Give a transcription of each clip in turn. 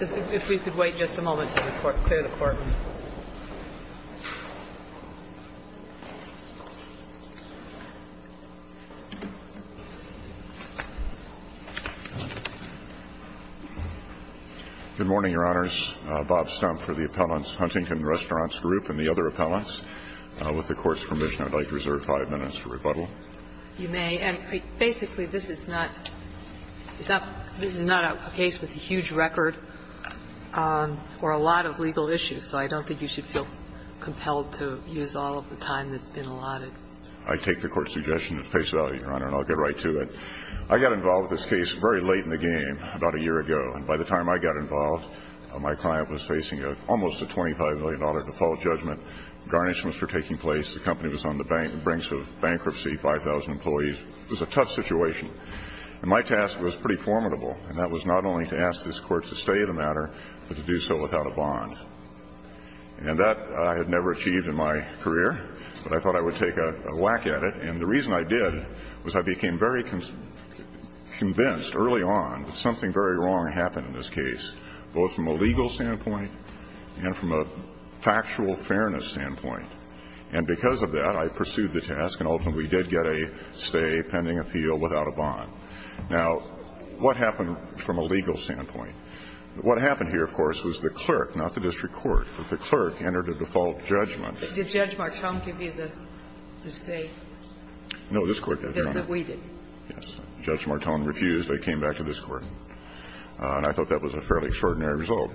If we could wait just a moment to clear the Court. Good morning, Your Honors. Bob Stump for the appellants, Huntington Restaurants Group and the other appellants. With the Court's permission, I'd like to reserve five minutes for rebuttal. You may, and basically, this is not – this is not a case with a huge record or a lot of legal issues, so I don't think you should feel compelled to use all of the time that's been allotted. I take the Court's suggestion and face it out, Your Honor, and I'll get right to it. I got involved with this case very late in the game, about a year ago, and by the time I got involved, my client was facing almost a $25 million default judgment. Garnishments were taking place, the company was on the brink of bankruptcy, 5,000 employees. It was a tough situation, and my task was pretty formidable, and that was not only to ask this Court to stay the matter, but to do so without a bond. And that I had never achieved in my career, but I thought I would take a whack at it, and the reason I did was I became very convinced early on that something very wrong happened in this case, both from a legal standpoint and from a factual fairness standpoint. And because of that, I pursued the task, and ultimately, we did get a stay pending appeal without a bond. Now, what happened from a legal standpoint? What happened here, of course, was the clerk, not the district court, but the clerk entered a default judgment. Did Judge Martone give you the stay? No, this Court did, Your Honor. That we did. Yes. Judge Martone refused. I came back to this Court. And I thought that was a fairly extraordinary result.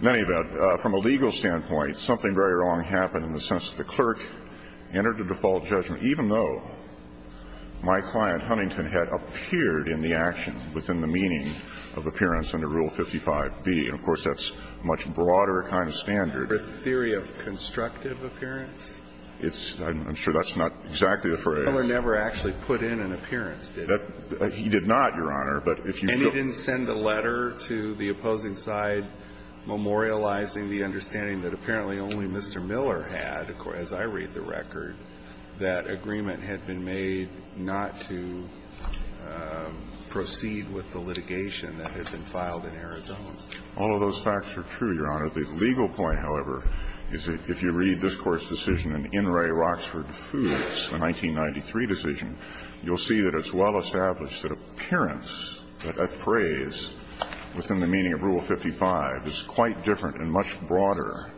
In any event, from a legal standpoint, something very wrong happened in the sense that the clerk entered a default judgment, even though my client, Huntington, had appeared in the action within the meaning of appearance under Rule 55b. And, of course, that's a much broader kind of standard. For a theory of constructive appearance? It's – I'm sure that's not exactly the phrase. Mueller never actually put in an appearance, did he? He did not, Your Honor. And he didn't send a letter to the opposing side memorializing the understanding that apparently only Mr. Miller had, as I read the record, that agreement had been made not to proceed with the litigation that had been filed in Arizona. All of those facts are true, Your Honor. The legal point, however, is that if you read this Court's decision in In re. Roxford Foods, the 1993 decision, you'll see that it's well established that appearance, that phrase, within the meaning of Rule 55, is quite different and much broader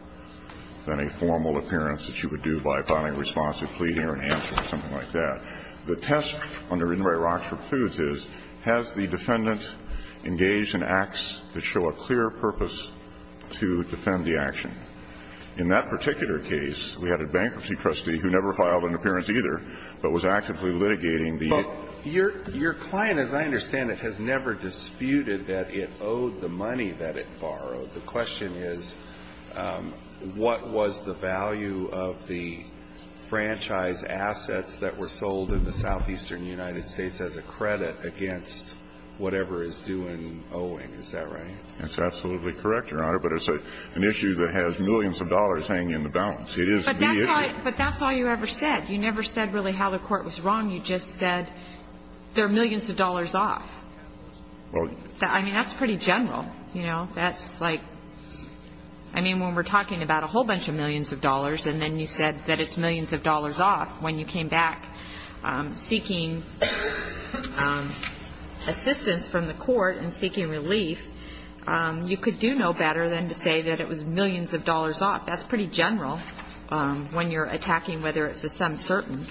than a formal appearance that you would do by filing a response of pleading or an answer or something like that. The test under In re. Roxford Foods is, has the defendant engaged in acts that show a clear purpose to defend the action? In that particular case, we had a bankruptcy trustee who never filed an appearance either, but was actively litigating the – But your – your client, as I understand it, has never disputed that it owed the money that it borrowed. The question is, what was the value of the franchise assets that were sold in the southeastern United States as a credit against whatever is due in Owing, is that right? That's absolutely correct, Your Honor. But it's an issue that has millions of dollars hanging in the balance. It is the – But that's all – but that's all you ever said. You never said really how the Court was wrong. You just said, they're millions of dollars off. Well – I mean, that's pretty general, you know. That's like – I mean, when we're talking about a whole bunch of millions of dollars and then you said that it's millions of dollars off, when you came back seeking assistance from the Court and seeking relief, you could do no better than to say that it was millions of dollars off. That's pretty general when you're attacking whether it's a sum certain.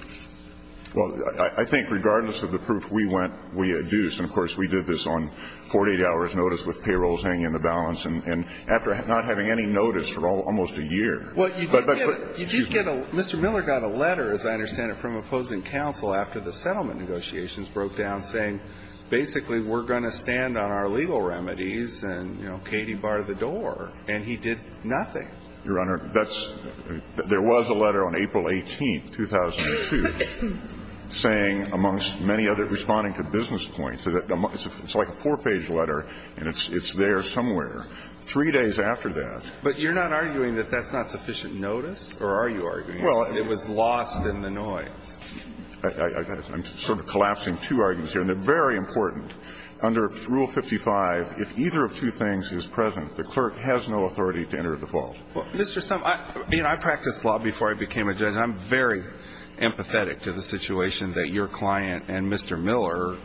Well, I think regardless of the proof we went – we adduced, and of course, we did this on 48-hours notice with payrolls hanging in the balance, and after not having any notice for almost a year. But – but – Well, you did get a – you did get a – Mr. Miller got a letter, as I understand it, from opposing counsel after the settlement negotiations broke down saying, basically, we're going to stand on our legal remedies and, you know, Katie barred the door. And he did nothing. Your Honor, that's – there was a letter on April 18th, 2002, saying, amongst many other – responding to business points – it's like a four-page letter, and it's there somewhere. Three days after that – But you're not arguing that that's not sufficient notice? Or are you arguing – Well – That it was lost in the noise? I – I'm sort of collapsing two arguments here, and they're very important. Under Rule 55, if either of two things is present, the clerk has no authority to enter the fault. Well, Mr. Stumpf, I – you know, I practiced law before I became a judge, and I'm very empathetic to the situation that your client and Mr. Miller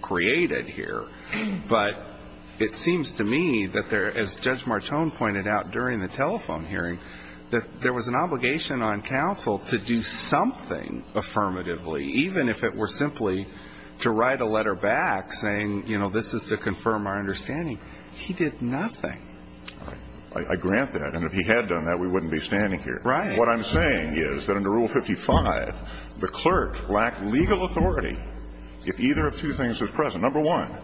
created here. But it seems to me that there – as Judge Martone pointed out during the telephone hearing, that there was an obligation on counsel to do something affirmatively, even if it were simply to write a letter back saying, you know, this is to confirm our understanding. He did nothing. All right. I grant that. And if he had done that, we wouldn't be standing here. Right. What I'm saying is that under Rule 55, the clerk lacked legal authority if either of two things was present. Number one,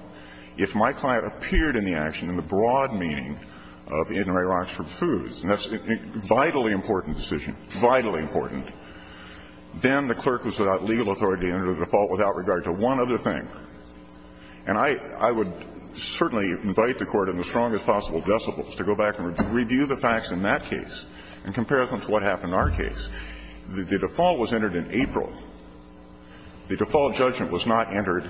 if my client appeared in the action in the broad meaning of the itinerary for food, and that's a vitally important decision, vitally important, then the clerk was without legal authority to enter the default without regard to one other thing. And I would certainly invite the Court in the strongest possible decibels to go back and review the facts in that case and compare them to what happened in our case. The default was entered in April. The default judgment was not entered,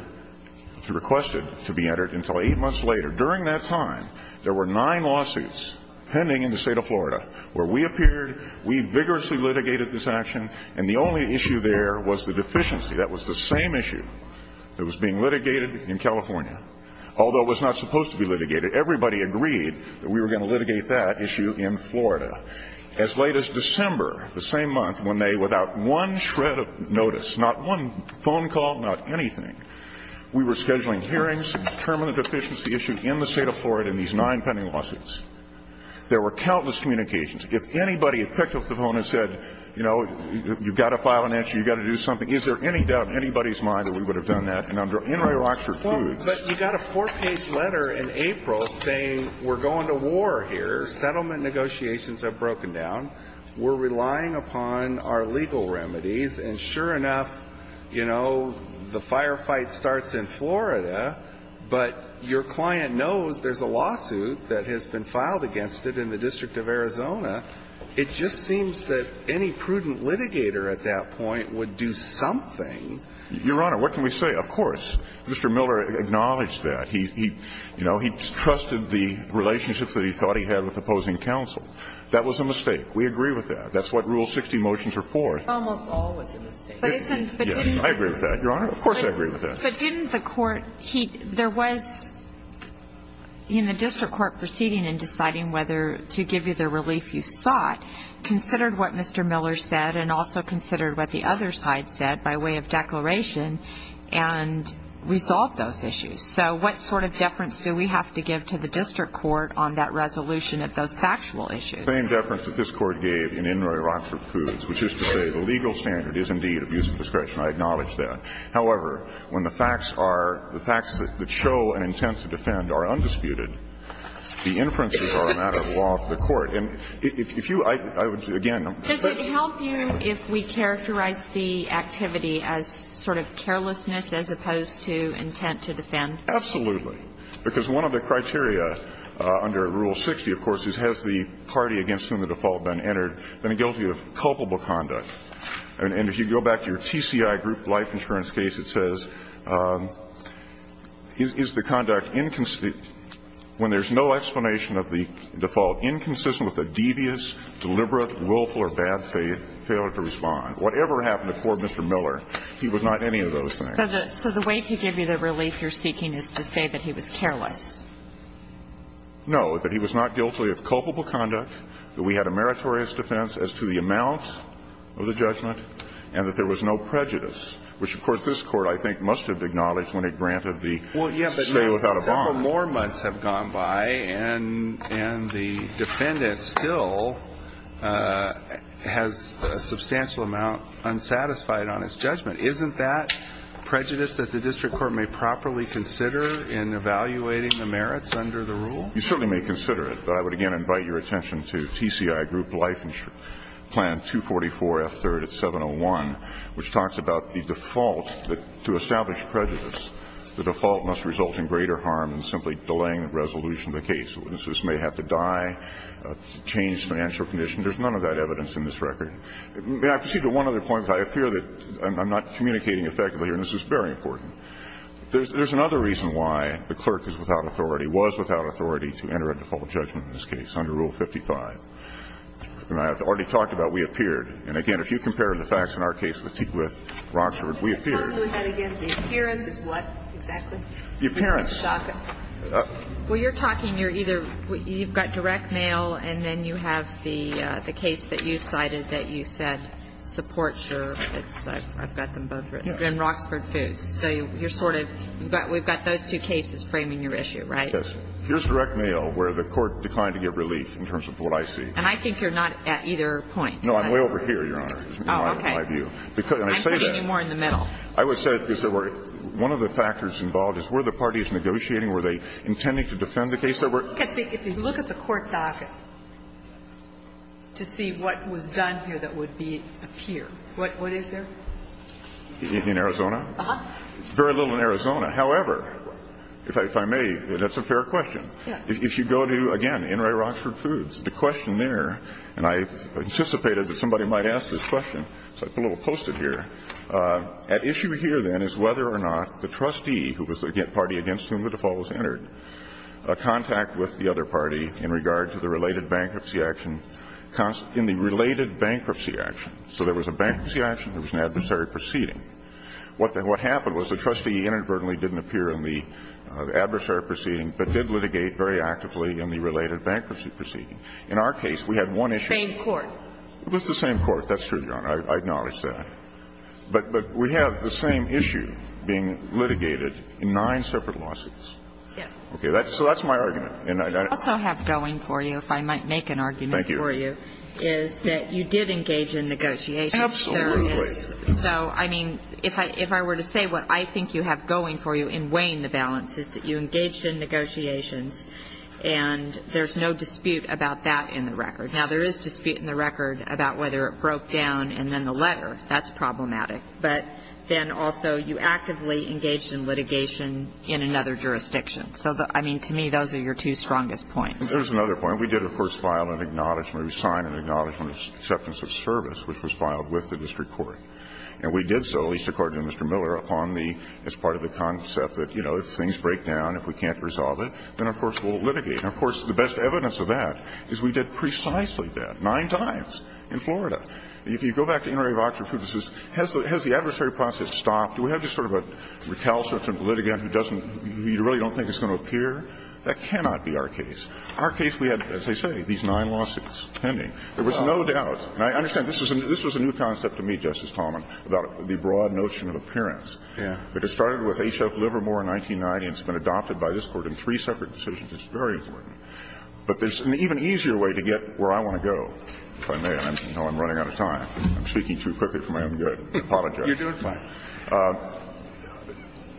requested to be entered until 8 months later. During that time, there were nine lawsuits pending in the State of Florida where we appeared, we vigorously litigated this action, and the only issue there was the deficiency. That was the same issue that was being litigated in California, although it was not supposed to be litigated. Everybody agreed that we were going to litigate that issue in Florida. As late as December, the same month, when they, without one shred of notice, not one of the deficiencies issued in the State of Florida in these nine pending lawsuits, there were countless communications. If anybody had picked up the phone and said, you know, you've got to file an issue, you've got to do something, is there any doubt in anybody's mind that we would have done that? And under N. Ray Rockford Foods… Well, but you got a four-page letter in April saying we're going to war here, settlement negotiations have broken down, we're relying upon our legal remedies, and sure enough, you know, the firefight starts in Florida, but your client knows there's a lawsuit that has been filed against it in the District of Arizona. It just seems that any prudent litigator at that point would do something. Your Honor, what can we say? Of course, Mr. Miller acknowledged that. He, you know, he trusted the relationships that he thought he had with opposing counsel. That was a mistake. We agree with that. That's what Rule 60 motions are for. It's almost always a mistake. But isn't… Yes, I agree with that, Your Honor. Of course I agree with that. But didn't the court… there was, in the district court proceeding and deciding whether to give you the relief you sought, considered what Mr. Miller said and also considered what the other side said by way of declaration and resolved those issues. So what sort of deference do we have to give to the district court on that resolution of those factual issues? The same deference that this Court gave in N. Ray Rockford Foods, which is to say the legal standard is indeed abuse of discretion. I acknowledge that. However, when the facts are… the facts that show an intent to defend are undisputed, the inferences are a matter of law for the court. And if you… I would, again… Does it help you if we characterize the activity as sort of carelessness as opposed to intent to defend? Absolutely. Because one of the criteria under Rule 60, of course, is has the party against whom the default has been entered been guilty of culpable conduct? And if you go back to your TCI group life insurance case, it says, is the conduct inconsistent when there's no explanation of the default, inconsistent with a devious, deliberate, willful or bad failure to respond? Whatever happened to Corp. Mr. Miller, he was not any of those things. So the way to give you the relief you're seeking is to say that he was careless. No, that he was not guilty of culpable conduct, that we had a meritorious defense as to the amount of the judgment, and that there was no prejudice, which, of course, this Court, I think, must have acknowledged when it granted the stay without a bond. Well, yes, but several more months have gone by, and the defendant still has a substantial amount unsatisfied on his judgment. Isn't that prejudice that the district court may properly consider in evaluating the merits under the rule? You certainly may consider it. But I would again invite your attention to TCI group life insurance plan 244F3rd at 701, which talks about the default, that to establish prejudice, the default must result in greater harm than simply delaying the resolution of the case. This may have to die, change financial condition. There's none of that evidence in this record. May I proceed to one other point? I fear that I'm not communicating effectively here, and this is very important. There's another reason why the clerk is without authority, was without authority to enter a default judgment in this case under Rule 55. And I have already talked about we appeared. And again, if you compare the facts in our case with Roxford, we appeared. The appearance is what exactly? The appearance. Well, you're talking, you're either you've got direct mail and then you have the case that you cited that you said supports your, it's, I've got them both written, Roxford Foods. So you're sort of, we've got those two cases framing your issue, right? Yes. Here's direct mail where the Court declined to give relief in terms of what I see. And I think you're not at either point. No, I'm way over here, Your Honor, in my view. Oh, okay. I'm putting you more in the middle. I would say that one of the factors involved is where the party is negotiating, were they intending to defend the case that were? If you look at the court docket to see what was done here that would appear, what is there? In Arizona? Uh-huh. Very little in Arizona. However, if I may, that's a fair question. If you go to, again, NRA Roxford Foods, the question there, and I anticipated that somebody might ask this question, so I put a little post-it here. At issue here, then, is whether or not the trustee, who was the party against whom the default was entered, contact with the other party in regard to the related bankruptcy action, in the related bankruptcy action. So there was a bankruptcy action, there was an adversary proceeding. What happened was the trustee inadvertently didn't appear in the adversary proceeding, but did litigate very actively in the related bankruptcy proceeding. In our case, we had one issue. Same court. It was the same court. That's true, Your Honor. I acknowledge that. But we have the same issue being litigated in nine separate lawsuits. Yeah. Okay, so that's my argument. I also have going for you, if I might make an argument for you, is that you did engage in negotiations. Absolutely. So, I mean, if I were to say what I think you have going for you in weighing the balance is that you engaged in negotiations, and there's no dispute about that in the record. Now, there is dispute in the record about whether it broke down and then the letter. That's problematic. But then also, you actively engaged in litigation in another jurisdiction. So, I mean, to me, those are your two strongest points. There's another point. We did, of course, file an acknowledgment. We signed an acknowledgment of acceptance of service, which was filed with the district court. And we did so, at least according to Mr. Miller, upon the as part of the concept that, you know, if things break down, if we can't resolve it, then, of course, we'll litigate. And, of course, the best evidence of that is we did precisely that nine times in Florida. If you go back to Inouye v. Oxford, it says, has the adversary process stopped? Do we have just sort of a recalcitrant litigant who doesn't you really don't think it's going to appear? That cannot be our case. Our case, we had, as I say, these nine lawsuits pending. There was no doubt. And I understand this was a new concept to me, Justice Talman, about the broad notion of appearance. Yeah. Because it started with Ashok Livermore in 1990, and it's been adopted by this Court in three separate decisions. It's very important. But there's an even easier way to get where I want to go, if I may. I know I'm running out of time. I'm speaking too quickly for my own good. I apologize. You're doing fine.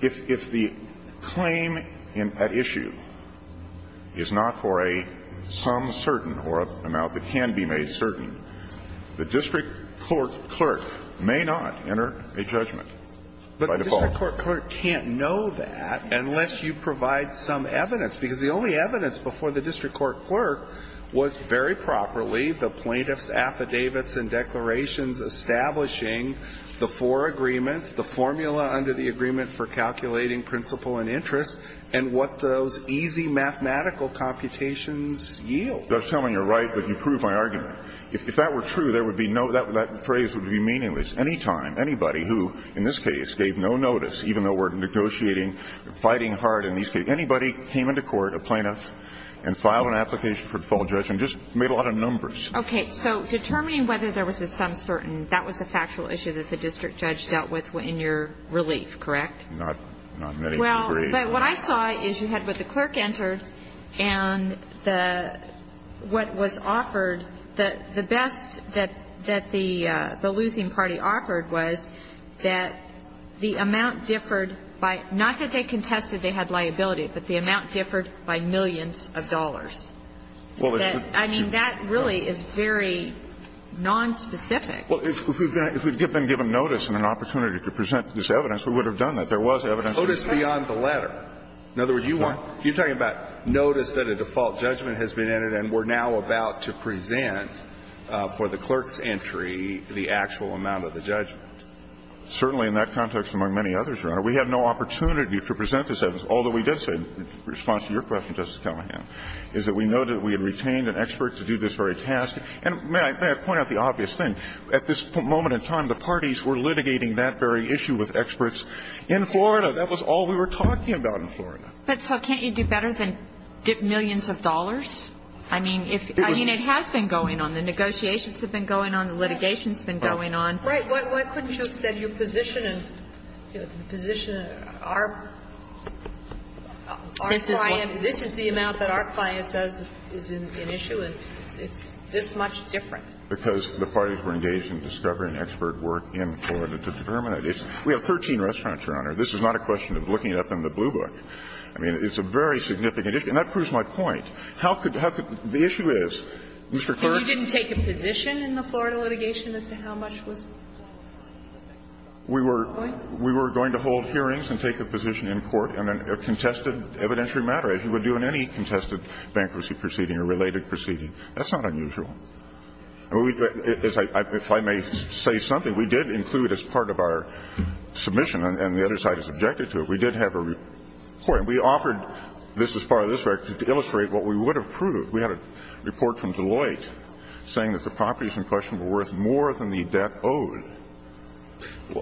If the claim at issue is not for a some certain or an amount that can be made certain, the district court clerk may not enter a judgment by default. But the district court clerk can't know that unless you provide some evidence. Because the only evidence before the district court clerk was very properly the plaintiff's affidavits and declarations establishing the four agreements, the formula under the agreement for calculating principle and interest, and what those easy mathematical computations yield. Justice Talman, you're right, but you prove my argument. If that were true, that phrase would be meaningless. Any time, anybody who, in this case, gave no notice, even though we're negotiating, fighting hard in these cases, anybody came into court, a plaintiff, and filed an application for the full judgment, just made a lot of numbers. Okay, so determining whether there was a some certain, that was a factual issue that the district judge dealt with in your relief, correct? Not many can agree. Well, but what I saw is you had what the clerk entered, and what was offered, the best that the losing party offered was that the amount differed by, not that they contested they had liability, but the amount differed by millions of dollars. I mean, that really is very nonspecific. Well, if we had been given notice and an opportunity to present this evidence, we would have done that. There was evidence. Notice beyond the letter. In other words, you want, you're talking about notice that a default judgment has been entered, and we're now about to present for the clerk's entry the actual amount of the judgment. Certainly in that context, among many others, Your Honor, we have no opportunity to present this evidence, although we did so in response to your question, Justice Kelloggan, is that we know that we had retained an expert to do this very task. And may I point out the obvious thing. At this moment in time, the parties were litigating that very issue with experts in Florida. That was all we were talking about in Florida. But so can't you do better than dip millions of dollars? I mean, if you mean it has been going on. The negotiations have been going on. The litigation has been going on. Right. Why couldn't you have said you're positioning, positioning our client, this is the amount that our client does, is an issue, and it's this much different? Because the parties were engaged in discovering expert work in Florida to determine it. We have 13 restaurants, Your Honor. This is not a question of looking it up in the blue book. I mean, it's a very significant issue. And that proves my point. How could the issue is, Mr. Kerr? And you didn't take a position in the Florida litigation as to how much was? We were going to hold hearings and take a position in court in a contested evidentiary matter, as you would do in any contested bankruptcy proceeding or related proceeding. That's not unusual. If I may say something, we did include as part of our submission, and the other side has objected to it. We did have a report, and we offered this as part of this record to illustrate what we would have proved. We had a report from Deloitte saying that the properties in question were worth more than the debt owed.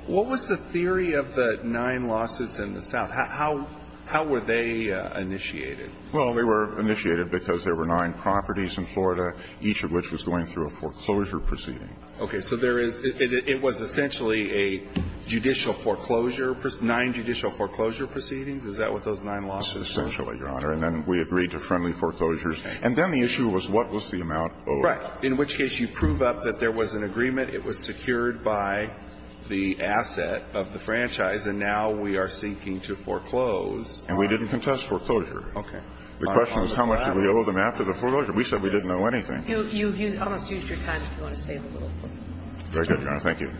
What was the theory of the nine lawsuits in the South? How were they initiated? Well, they were initiated because there were nine properties in Florida, each of which was going through a foreclosure proceeding. Okay. So there is – it was essentially a judicial foreclosure – nine judicial foreclosure proceedings? Is that what those nine lawsuits were? Essentially, Your Honor. And then we agreed to friendly foreclosures. And then the issue was what was the amount owed? Right. In which case you prove up that there was an agreement. It was secured by the asset of the franchise, and now we are seeking to foreclose. And we didn't contest foreclosure. Okay. The question is how much did we owe them after the foreclosure. We said we didn't owe anything. You've used – almost used your time, if you want to say a little more. Very good, Your Honor. Thank you.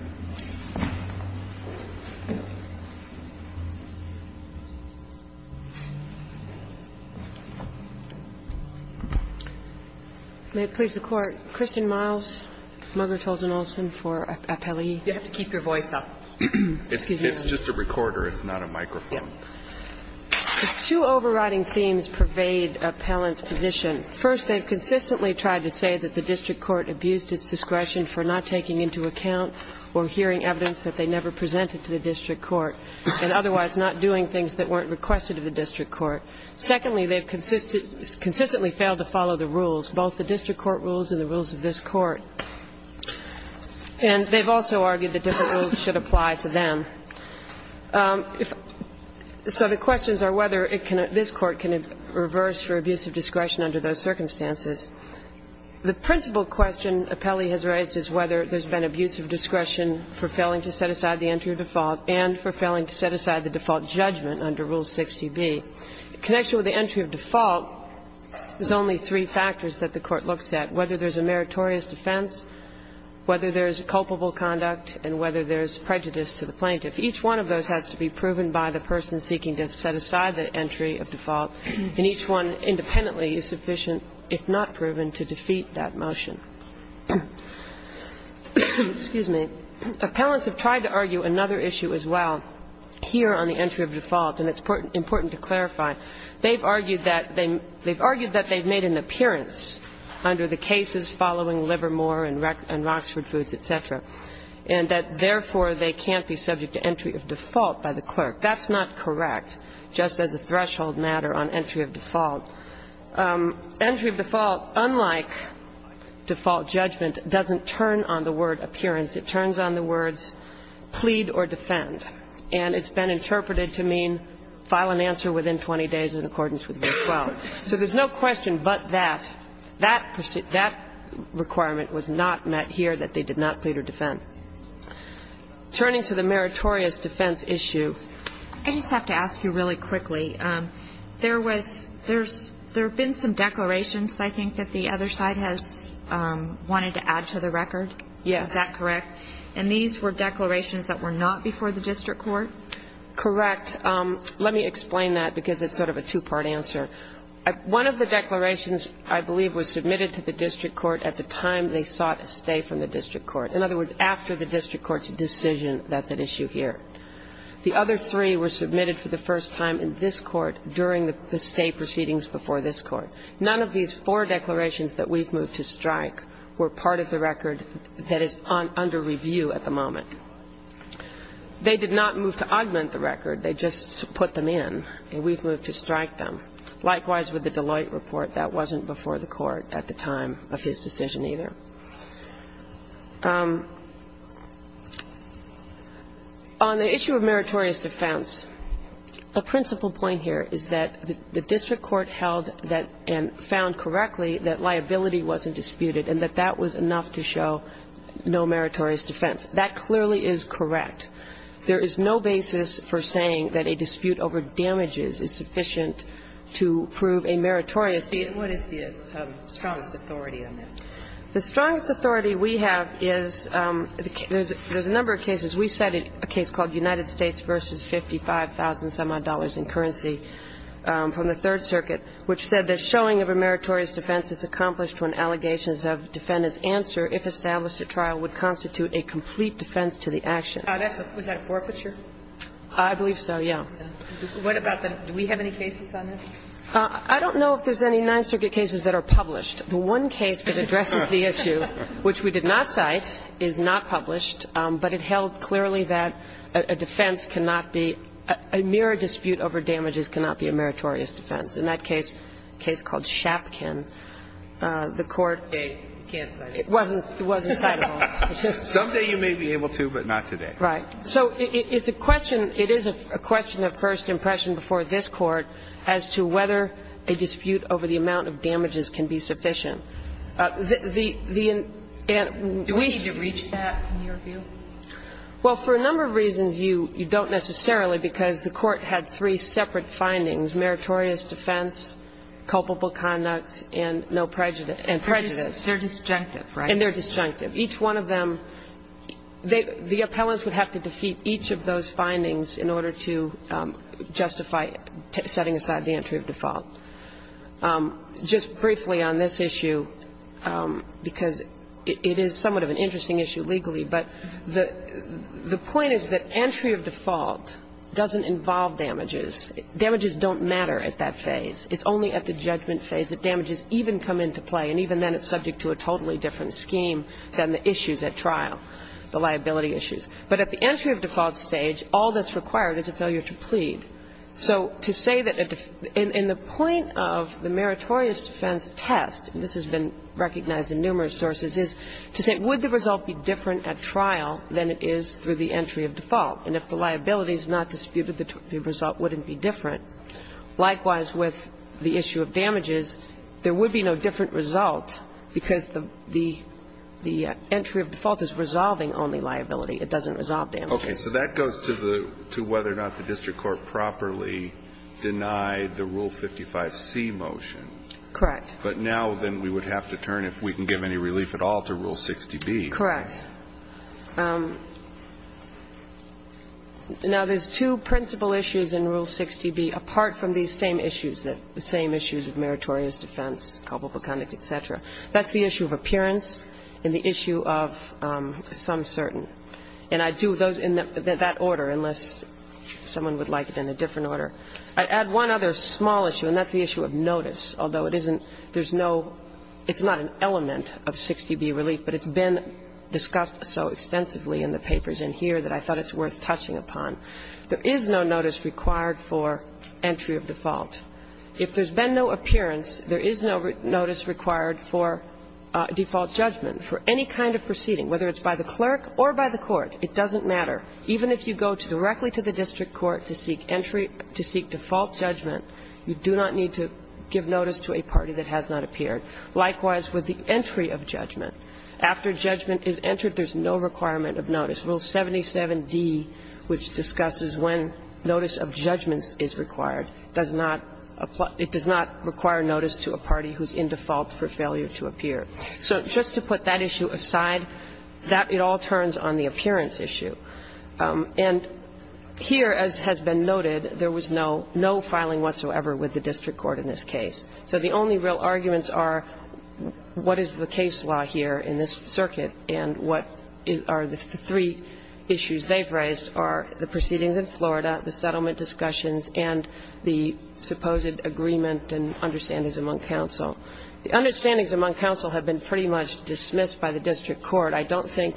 May it please the Court, Kristen Miles, Margaret Tolson Olson for appellee. You have to keep your voice up. It's just a recorder. It's not a microphone. The two overriding themes pervade Appellant's position. First, they've consistently tried to say that the district court abused its discretion for not taking into account or hearing evidence that they never presented to the district court, and otherwise not doing things that weren't requested of the district court. Secondly, they've consistently failed to follow the rules, both the district court rules and the rules of this court. And they've also argued that different rules should apply to them. So the questions are whether it can – this court can reverse for abuse of discretion under those circumstances. The principal question appellee has raised is whether there's been abuse of discretion for failing to set aside the entry of default and for failing to set aside the default judgment under Rule 60b. The connection with the entry of default is only three factors that the court looks at, whether there's a meritorious defense, whether there's culpable conduct, and whether there's prejudice to the plaintiff. Each one of those has to be proven by the person seeking to set aside the entry of default. And each one independently is sufficient, if not proven, to defeat that motion. Excuse me. Appellants have tried to argue another issue as well here on the entry of default, and it's important to clarify. They've argued that they've made an appearance under the cases following Livermore and Roxford Foods, et cetera, and that, therefore, they can't be subject to entry of default by the clerk. That's not correct, just as a threshold matter on entry of default. Entry of default, unlike default judgment, doesn't turn on the word appearance. It turns on the words plead or defend. And it's been interpreted to mean file an answer within 20 days in accordance with Rule 12. So there's no question but that that requirement was not met here, that they did not plead or defend. Turning to the meritorious defense issue. I just have to ask you really quickly. There was, there's, there have been some declarations, I think, that the other side has wanted to add to the record. Yes. Is that correct? And these were declarations that were not before the district court? Correct. Let me explain that because it's sort of a two-part answer. One of the declarations, I believe, was submitted to the district court at the time they sought a stay from the district court. In other words, after the district court's decision, that's an issue here. The other three were submitted for the first time in this court during the stay proceedings before this court. None of these four declarations that we've moved to strike were part of the record that is under review at the moment. They did not move to augment the record. They just put them in, and we've moved to strike them. Likewise with the Deloitte report. That wasn't before the court at the time of his decision either. On the issue of meritorious defense, the principal point here is that the district court held that and found correctly that liability wasn't disputed and that that was enough to show no meritorious defense. That clearly is correct. There is no basis for saying that a dispute over damages is sufficient to prove a meritorious defense. What is the strongest authority on that? The strongest authority we have is, there's a number of cases. We cited a case called United States v. 55,000-some-odd dollars in currency from the Third Circuit, which said that showing of a meritorious defense is accomplished when allegations of defendant's answer, if established at trial, would constitute a complete defense to the action. Was that a forfeiture? I believe so, yeah. What about the, do we have any cases on this? I don't know if there's any Ninth Circuit cases that are published. The one case that addresses the issue, which we did not cite, is not published, but it held clearly that a defense cannot be, a mere dispute over damages cannot be a meritorious defense. In that case, a case called Shapkin, the Court. You can't cite it. It wasn't citable. Someday you may be able to, but not today. Right. So it's a question, it is a question of first impression before this Court as to whether a dispute over the amount of damages can be sufficient. Do we need to reach that, in your view? Well, for a number of reasons, you don't necessarily, because the Court had three separate findings, meritorious defense, culpable conduct, and no prejudice and prejudice. They're disjunctive, right? And they're disjunctive. Each one of them, the appellants would have to defeat each of those findings in order to justify setting aside the entry of default. Just briefly on this issue, because it is somewhat of an interesting issue legally, but the point is that entry of default doesn't involve damages. Damages don't matter at that phase. It's only at the judgment phase that damages even come into play, and even then it's subject to a totally different scheme than the issues at trial, the liability issues. But at the entry of default stage, all that's required is a failure to plead. So to say that in the point of the meritorious defense test, and this has been recognized in numerous sources, is to say, would the result be different at trial than it is through the entry of default? And if the liability is not disputed, the result wouldn't be different. Likewise, with the issue of damages, there would be no different result because the entry of default is resolving only liability. It doesn't resolve damages. Okay. So that goes to whether or not the district court properly denied the Rule 55C motion. Correct. But now then we would have to turn, if we can give any relief at all, to Rule 60B. Correct. Now, there's two principal issues in Rule 60B, apart from these same issues, the same issues of meritorious defense, culpable conduct, et cetera. That's the issue of appearance and the issue of some certain. And I'd do those in that order, unless someone would like it in a different order. I'd add one other small issue, and that's the issue of notice. Although it isn't, there's no, it's not an element of 60B relief, but it's been discussed so extensively in the papers in here that I thought it's worth touching upon. There is no notice required for entry of default. If there's been no appearance, there is no notice required for default judgment for any kind of proceeding, whether it's by the clerk or by the court. It doesn't matter. Even if you go directly to the district court to seek entry, to seek default judgment, you do not need to give notice to a party that has not appeared. Likewise, with the entry of judgment. After judgment is entered, there's no requirement of notice. Rule 77d, which discusses when notice of judgment is required, does not apply, it does not require notice to a party who's in default for failure to appear. So just to put that issue aside, that, it all turns on the appearance issue. And here, as has been noted, there was no, no filing whatsoever with the district court in this case. So the only real arguments are what is the case law here in this circuit and what are the three issues they've raised are the proceedings in Florida, the settlement discussions, and the supposed agreement and understandings among counsel. The understandings among counsel have been pretty much dismissed by the district court. I don't think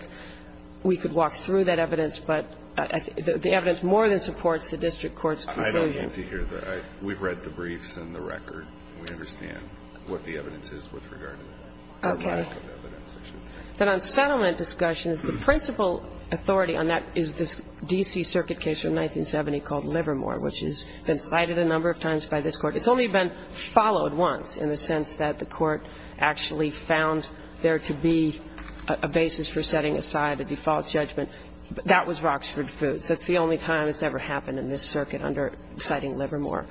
we could walk through that evidence, but the evidence more than supports the district court's conclusion. I don't think you hear that. We've read the briefs and the record. We understand what the evidence is with regard to that. Okay. And then on settlement discussions, the principal authority on that is this D.C. Circuit case from 1970 called Livermore, which has been cited a number of times by this Court. It's only been followed once in the sense that the Court actually found there to be a basis for setting aside a default judgment. That was Roxford Foods. That's the only time it's ever happened in this circuit under citing Livermore.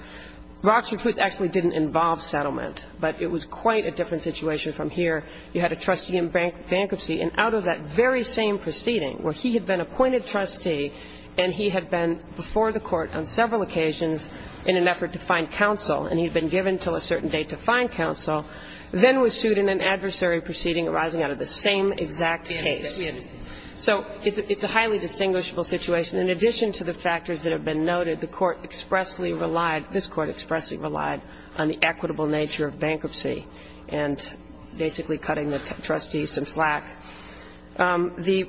Roxford Foods actually didn't involve settlement, but it was quite a different situation from here. You had a trustee in bankruptcy, and out of that very same proceeding where he had been appointed trustee and he had been before the Court on several occasions in an effort to find counsel, and he had been given until a certain date to find counsel, then was sued in an adversary proceeding arising out of the same exact case. We understand. So it's a highly distinguishable situation. In addition to the factors that have been noted, the Court expressly relied, this The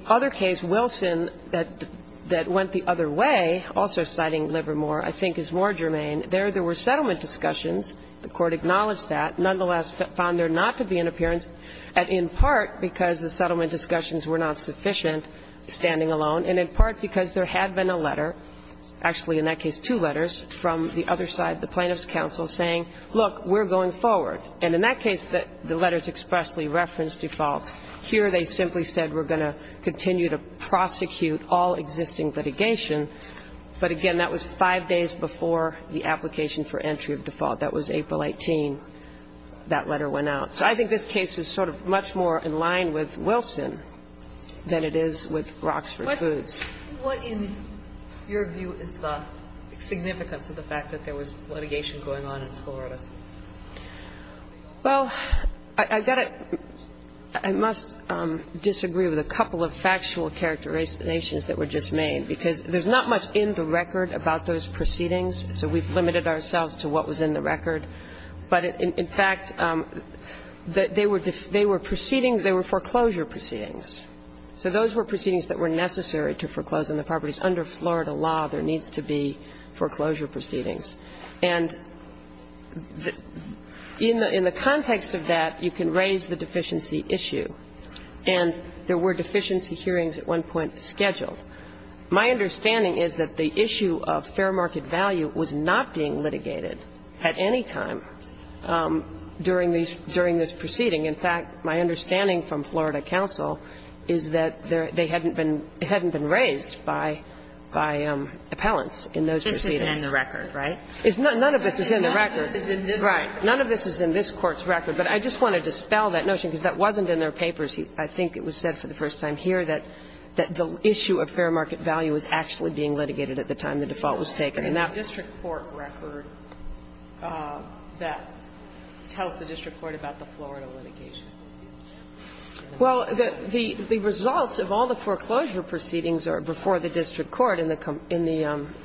other case, Wilson, that went the other way, also citing Livermore, I think is more germane. There, there were settlement discussions. The Court acknowledged that, nonetheless found there not to be an appearance in part because the settlement discussions were not sufficient, standing alone, and in part because there had been a letter, actually, in that case, two letters from the other side, the Plaintiff's counsel, saying, look, we're going forward. And in that case, the letters expressly referenced default. Here, they simply said, we're going to continue to prosecute all existing litigation. But, again, that was five days before the application for entry of default. That was April 18. That letter went out. So I think this case is sort of much more in line with Wilson than it is with Roxford Foods. What, in your view, is the significance of the fact that there was litigation going on in Florida? Well, I've got to – I must disagree with a couple of factual characterizations that were just made, because there's not much in the record about those proceedings, so we've limited ourselves to what was in the record. But, in fact, they were proceedings – they were foreclosure proceedings. So those were proceedings that were necessary to foreclose on the properties. Under Florida law, there needs to be foreclosure proceedings. And in the context of that, you can raise the deficiency issue. And there were deficiency hearings at one point scheduled. My understanding is that the issue of fair market value was not being litigated at any time during these – during this proceeding. In fact, my understanding from Florida counsel is that they hadn't been – it hadn't been raised by appellants in those proceedings. None of this is in the record, right? None of this is in the record. None of this is in this Court's record. Right. None of this is in this Court's record. But I just want to dispel that notion, because that wasn't in their papers. I think it was said for the first time here that the issue of fair market value was actually being litigated at the time the default was taken. And the district court record that tells the district court about the Florida litigation. Well, the results of all the foreclosure proceedings are before the district court in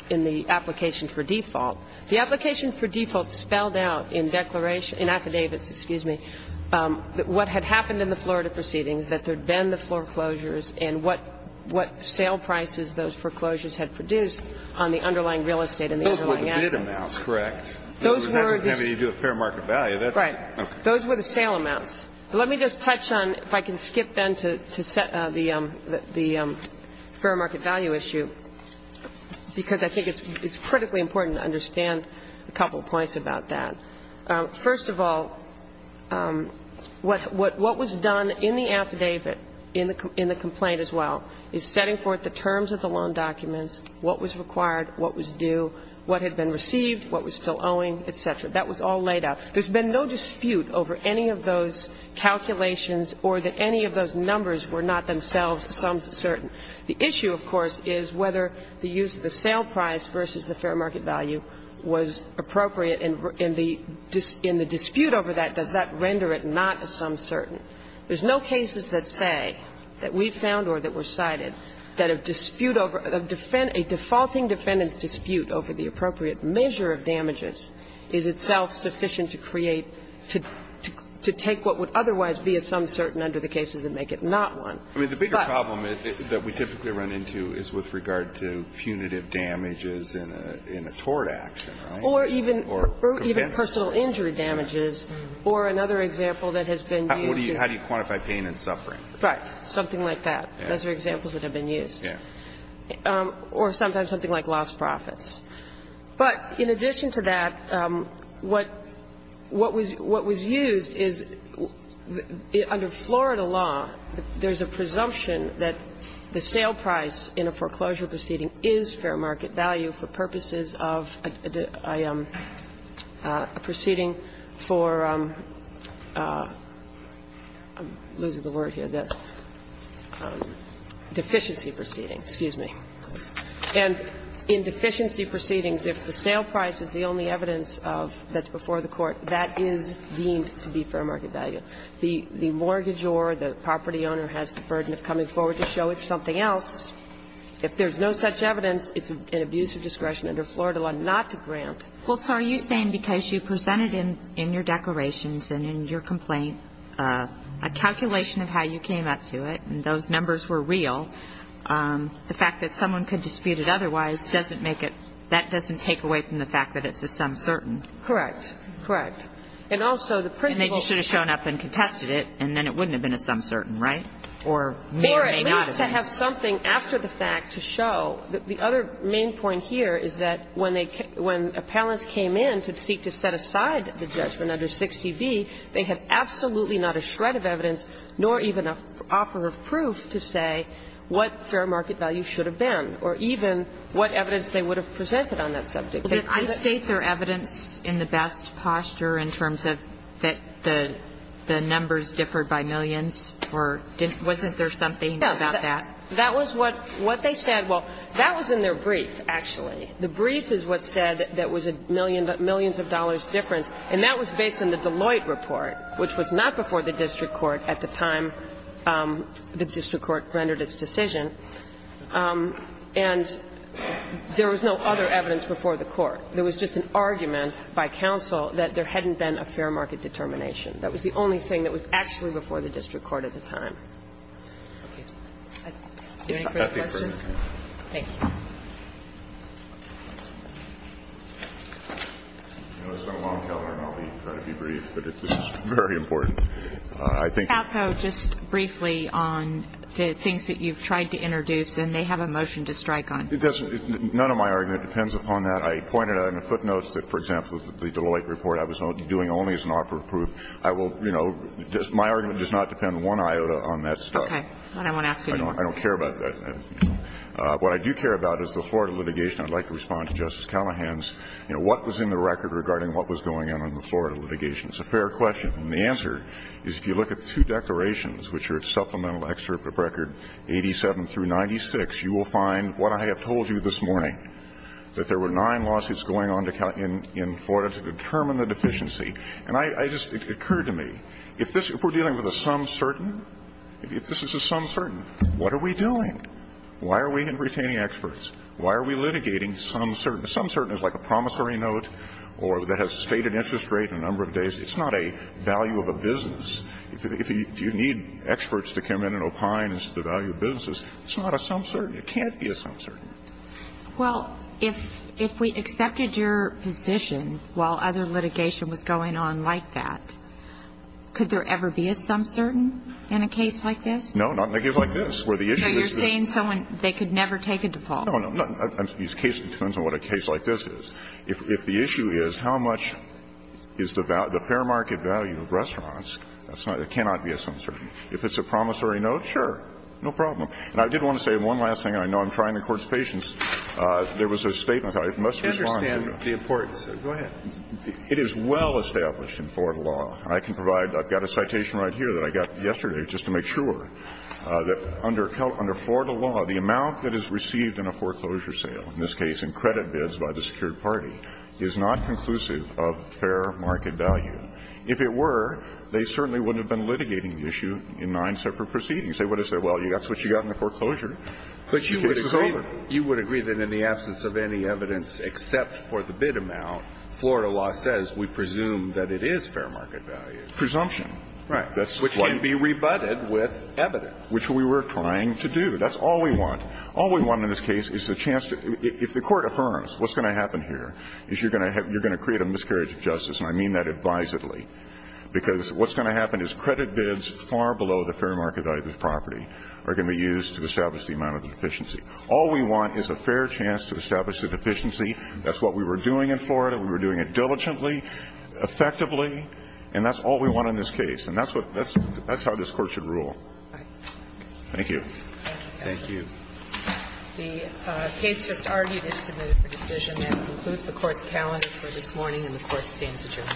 the application for default. The application for default spelled out in declaration – in affidavits, excuse me, that what had happened in the Florida proceedings, that there had been the foreclosures, and what sale prices those foreclosures had produced on the underlying real estate and the underlying assets. Those were the bid amounts, correct? Those were the – You do a fair market value. Right. Those were the sale amounts. Let me just touch on – if I can skip then to set the fair market value issue, because I think it's critically important to understand a couple of points about that. First of all, what was done in the affidavit, in the complaint as well, is setting forth the terms of the loan documents, what was required, what was due, what had been received, what was still owing, et cetera. That was all laid out. There's been no dispute over any of those calculations or that any of those numbers were not themselves sums certain. The issue, of course, is whether the use of the sale price versus the fair market value was appropriate, and in the dispute over that, does that render it not sums certain. There's no cases that say, that we've found or that were cited, that a dispute over – a defaulting defendant's dispute over the appropriate measure of damages is itself sufficient to create – to take what would otherwise be a sums certain under the cases and make it not one. But – I mean, the bigger problem that we typically run into is with regard to punitive damages in a tort action, right? Or even – or even personal injury damages. Or another example that has been used is – How do you quantify pain and suffering? Right. Something like that. Those are examples that have been used. Yeah. Or sometimes something like lost profits. But in addition to that, what – what was – what was used is under Florida law, there's a presumption that the sale price in a foreclosure proceeding is fair market value for purposes of a proceeding for – I'm losing the word here. Deficiency proceedings. Excuse me. And in deficiency proceedings, if the sale price is the only evidence of – that's before the court, that is deemed to be fair market value. The mortgage or the property owner has the burden of coming forward to show it's something else. If there's no such evidence, it's an abuse of discretion under Florida law not to grant. Well, so are you saying because you presented in your declarations and in your complaint a calculation of how you came up to it and those numbers were real, the fact that someone could dispute it otherwise doesn't make it – that doesn't take away from the fact that it's a sum certain? Correct. Correct. And also the principle – And they just should have shown up and contested it, and then it wouldn't have been a sum certain, right? Or may or may not have been. Or it needs to have something after the fact to show. The other main point here is that when they – when appellants came in to seek to set aside the judgment under 60B, they had absolutely not a shred of evidence nor even an offer of proof to say what fair market value should have been or even what evidence they would have presented on that subject. Did I state their evidence in the best posture in terms of that the numbers differed by millions, or wasn't there something about that? No. That was what they said. Well, that was in their brief, actually. The brief is what said that was a millions of dollars difference, and that was based in the Deloitte report, which was not before the district court at the time the district court rendered its decision, and there was no other evidence before the court. There was just an argument by counsel that there hadn't been a fair market determination. That was the only thing that was actually before the district court at the time. Okay. Any further questions? Thank you. You know, it's not a long time, and I'll try to be brief, but this is very important. I think the ---- Counsel, just briefly on the things that you've tried to introduce, and they have a motion to strike on. It doesn't ---- none of my argument depends upon that. I pointed out in the footnotes that, for example, the Deloitte report I was doing only as an offer of proof. I will, you know, my argument does not depend one iota on that stuff. Okay. I don't want to ask any more. I don't care about that. What I do care about is the Florida litigation. I'd like to respond to Justice Callahan's, you know, what was in the record regarding what was going on in the Florida litigation. It's a fair question. And the answer is if you look at the two declarations, which are at supplemental excerpt of record 87 through 96, you will find what I have told you this morning, that there were nine lawsuits going on in Florida to determine the deficiency. And I just ---- it occurred to me, if this ---- if we're dealing with a some certain, if this is a some certain, what are we doing? Why are we retaining experts? Why are we litigating some certain? A some certain is like a promissory note or that has a stated interest rate and a number of days. It's not a value of a business. If you need experts to come in and opine as to the value of businesses, it's not a some certain. It can't be a some certain. Well, if we accepted your position while other litigation was going on like that, could there ever be a some certain in a case like this? No, not in a case like this, where the issue is the ---- So you're saying someone, they could never take a default? No, no. I'm not going to use case determinants on what a case like this is. If the issue is how much is the fair market value of restaurants, that's not ---- it cannot be a some certain. If it's a promissory note, sure, no problem. And I did want to say one last thing. I know I'm trying to court's patience. There was a statement. I must respond to it. I understand the importance. Go ahead. It is well established in Florida law. I can provide ---- I've got a citation right here that I got yesterday just to make sure that under Florida law, the amount that is received in a foreclosure sale, in this case in credit bids by the secured party, is not conclusive of fair market value. If it were, they certainly wouldn't have been litigating the issue in nine separate proceedings. They would have said, well, that's what you got in the foreclosure. But you would agree that in the absence of any evidence except for the bid amount, Florida law says we presume that it is fair market value. Presumption. Right. Which can be rebutted with evidence. Which we were trying to do. That's all we want. All we want in this case is the chance to ---- if the Court affirms what's going to happen here is you're going to create a miscarriage of justice, and I mean that advisedly, because what's going to happen is credit bids far below the fair market value of the property are going to be used to establish the amount of the deficiency. All we want is a fair chance to establish the deficiency. That's what we were doing in Florida. We were doing it diligently, effectively, and that's all we want in this case. And that's what ---- that's how this Court should rule. Thank you. Thank you. The case just argued is submitted for decision. That concludes the Court's calendar for this morning, and the Court stands adjourned. Thank you. Thank you.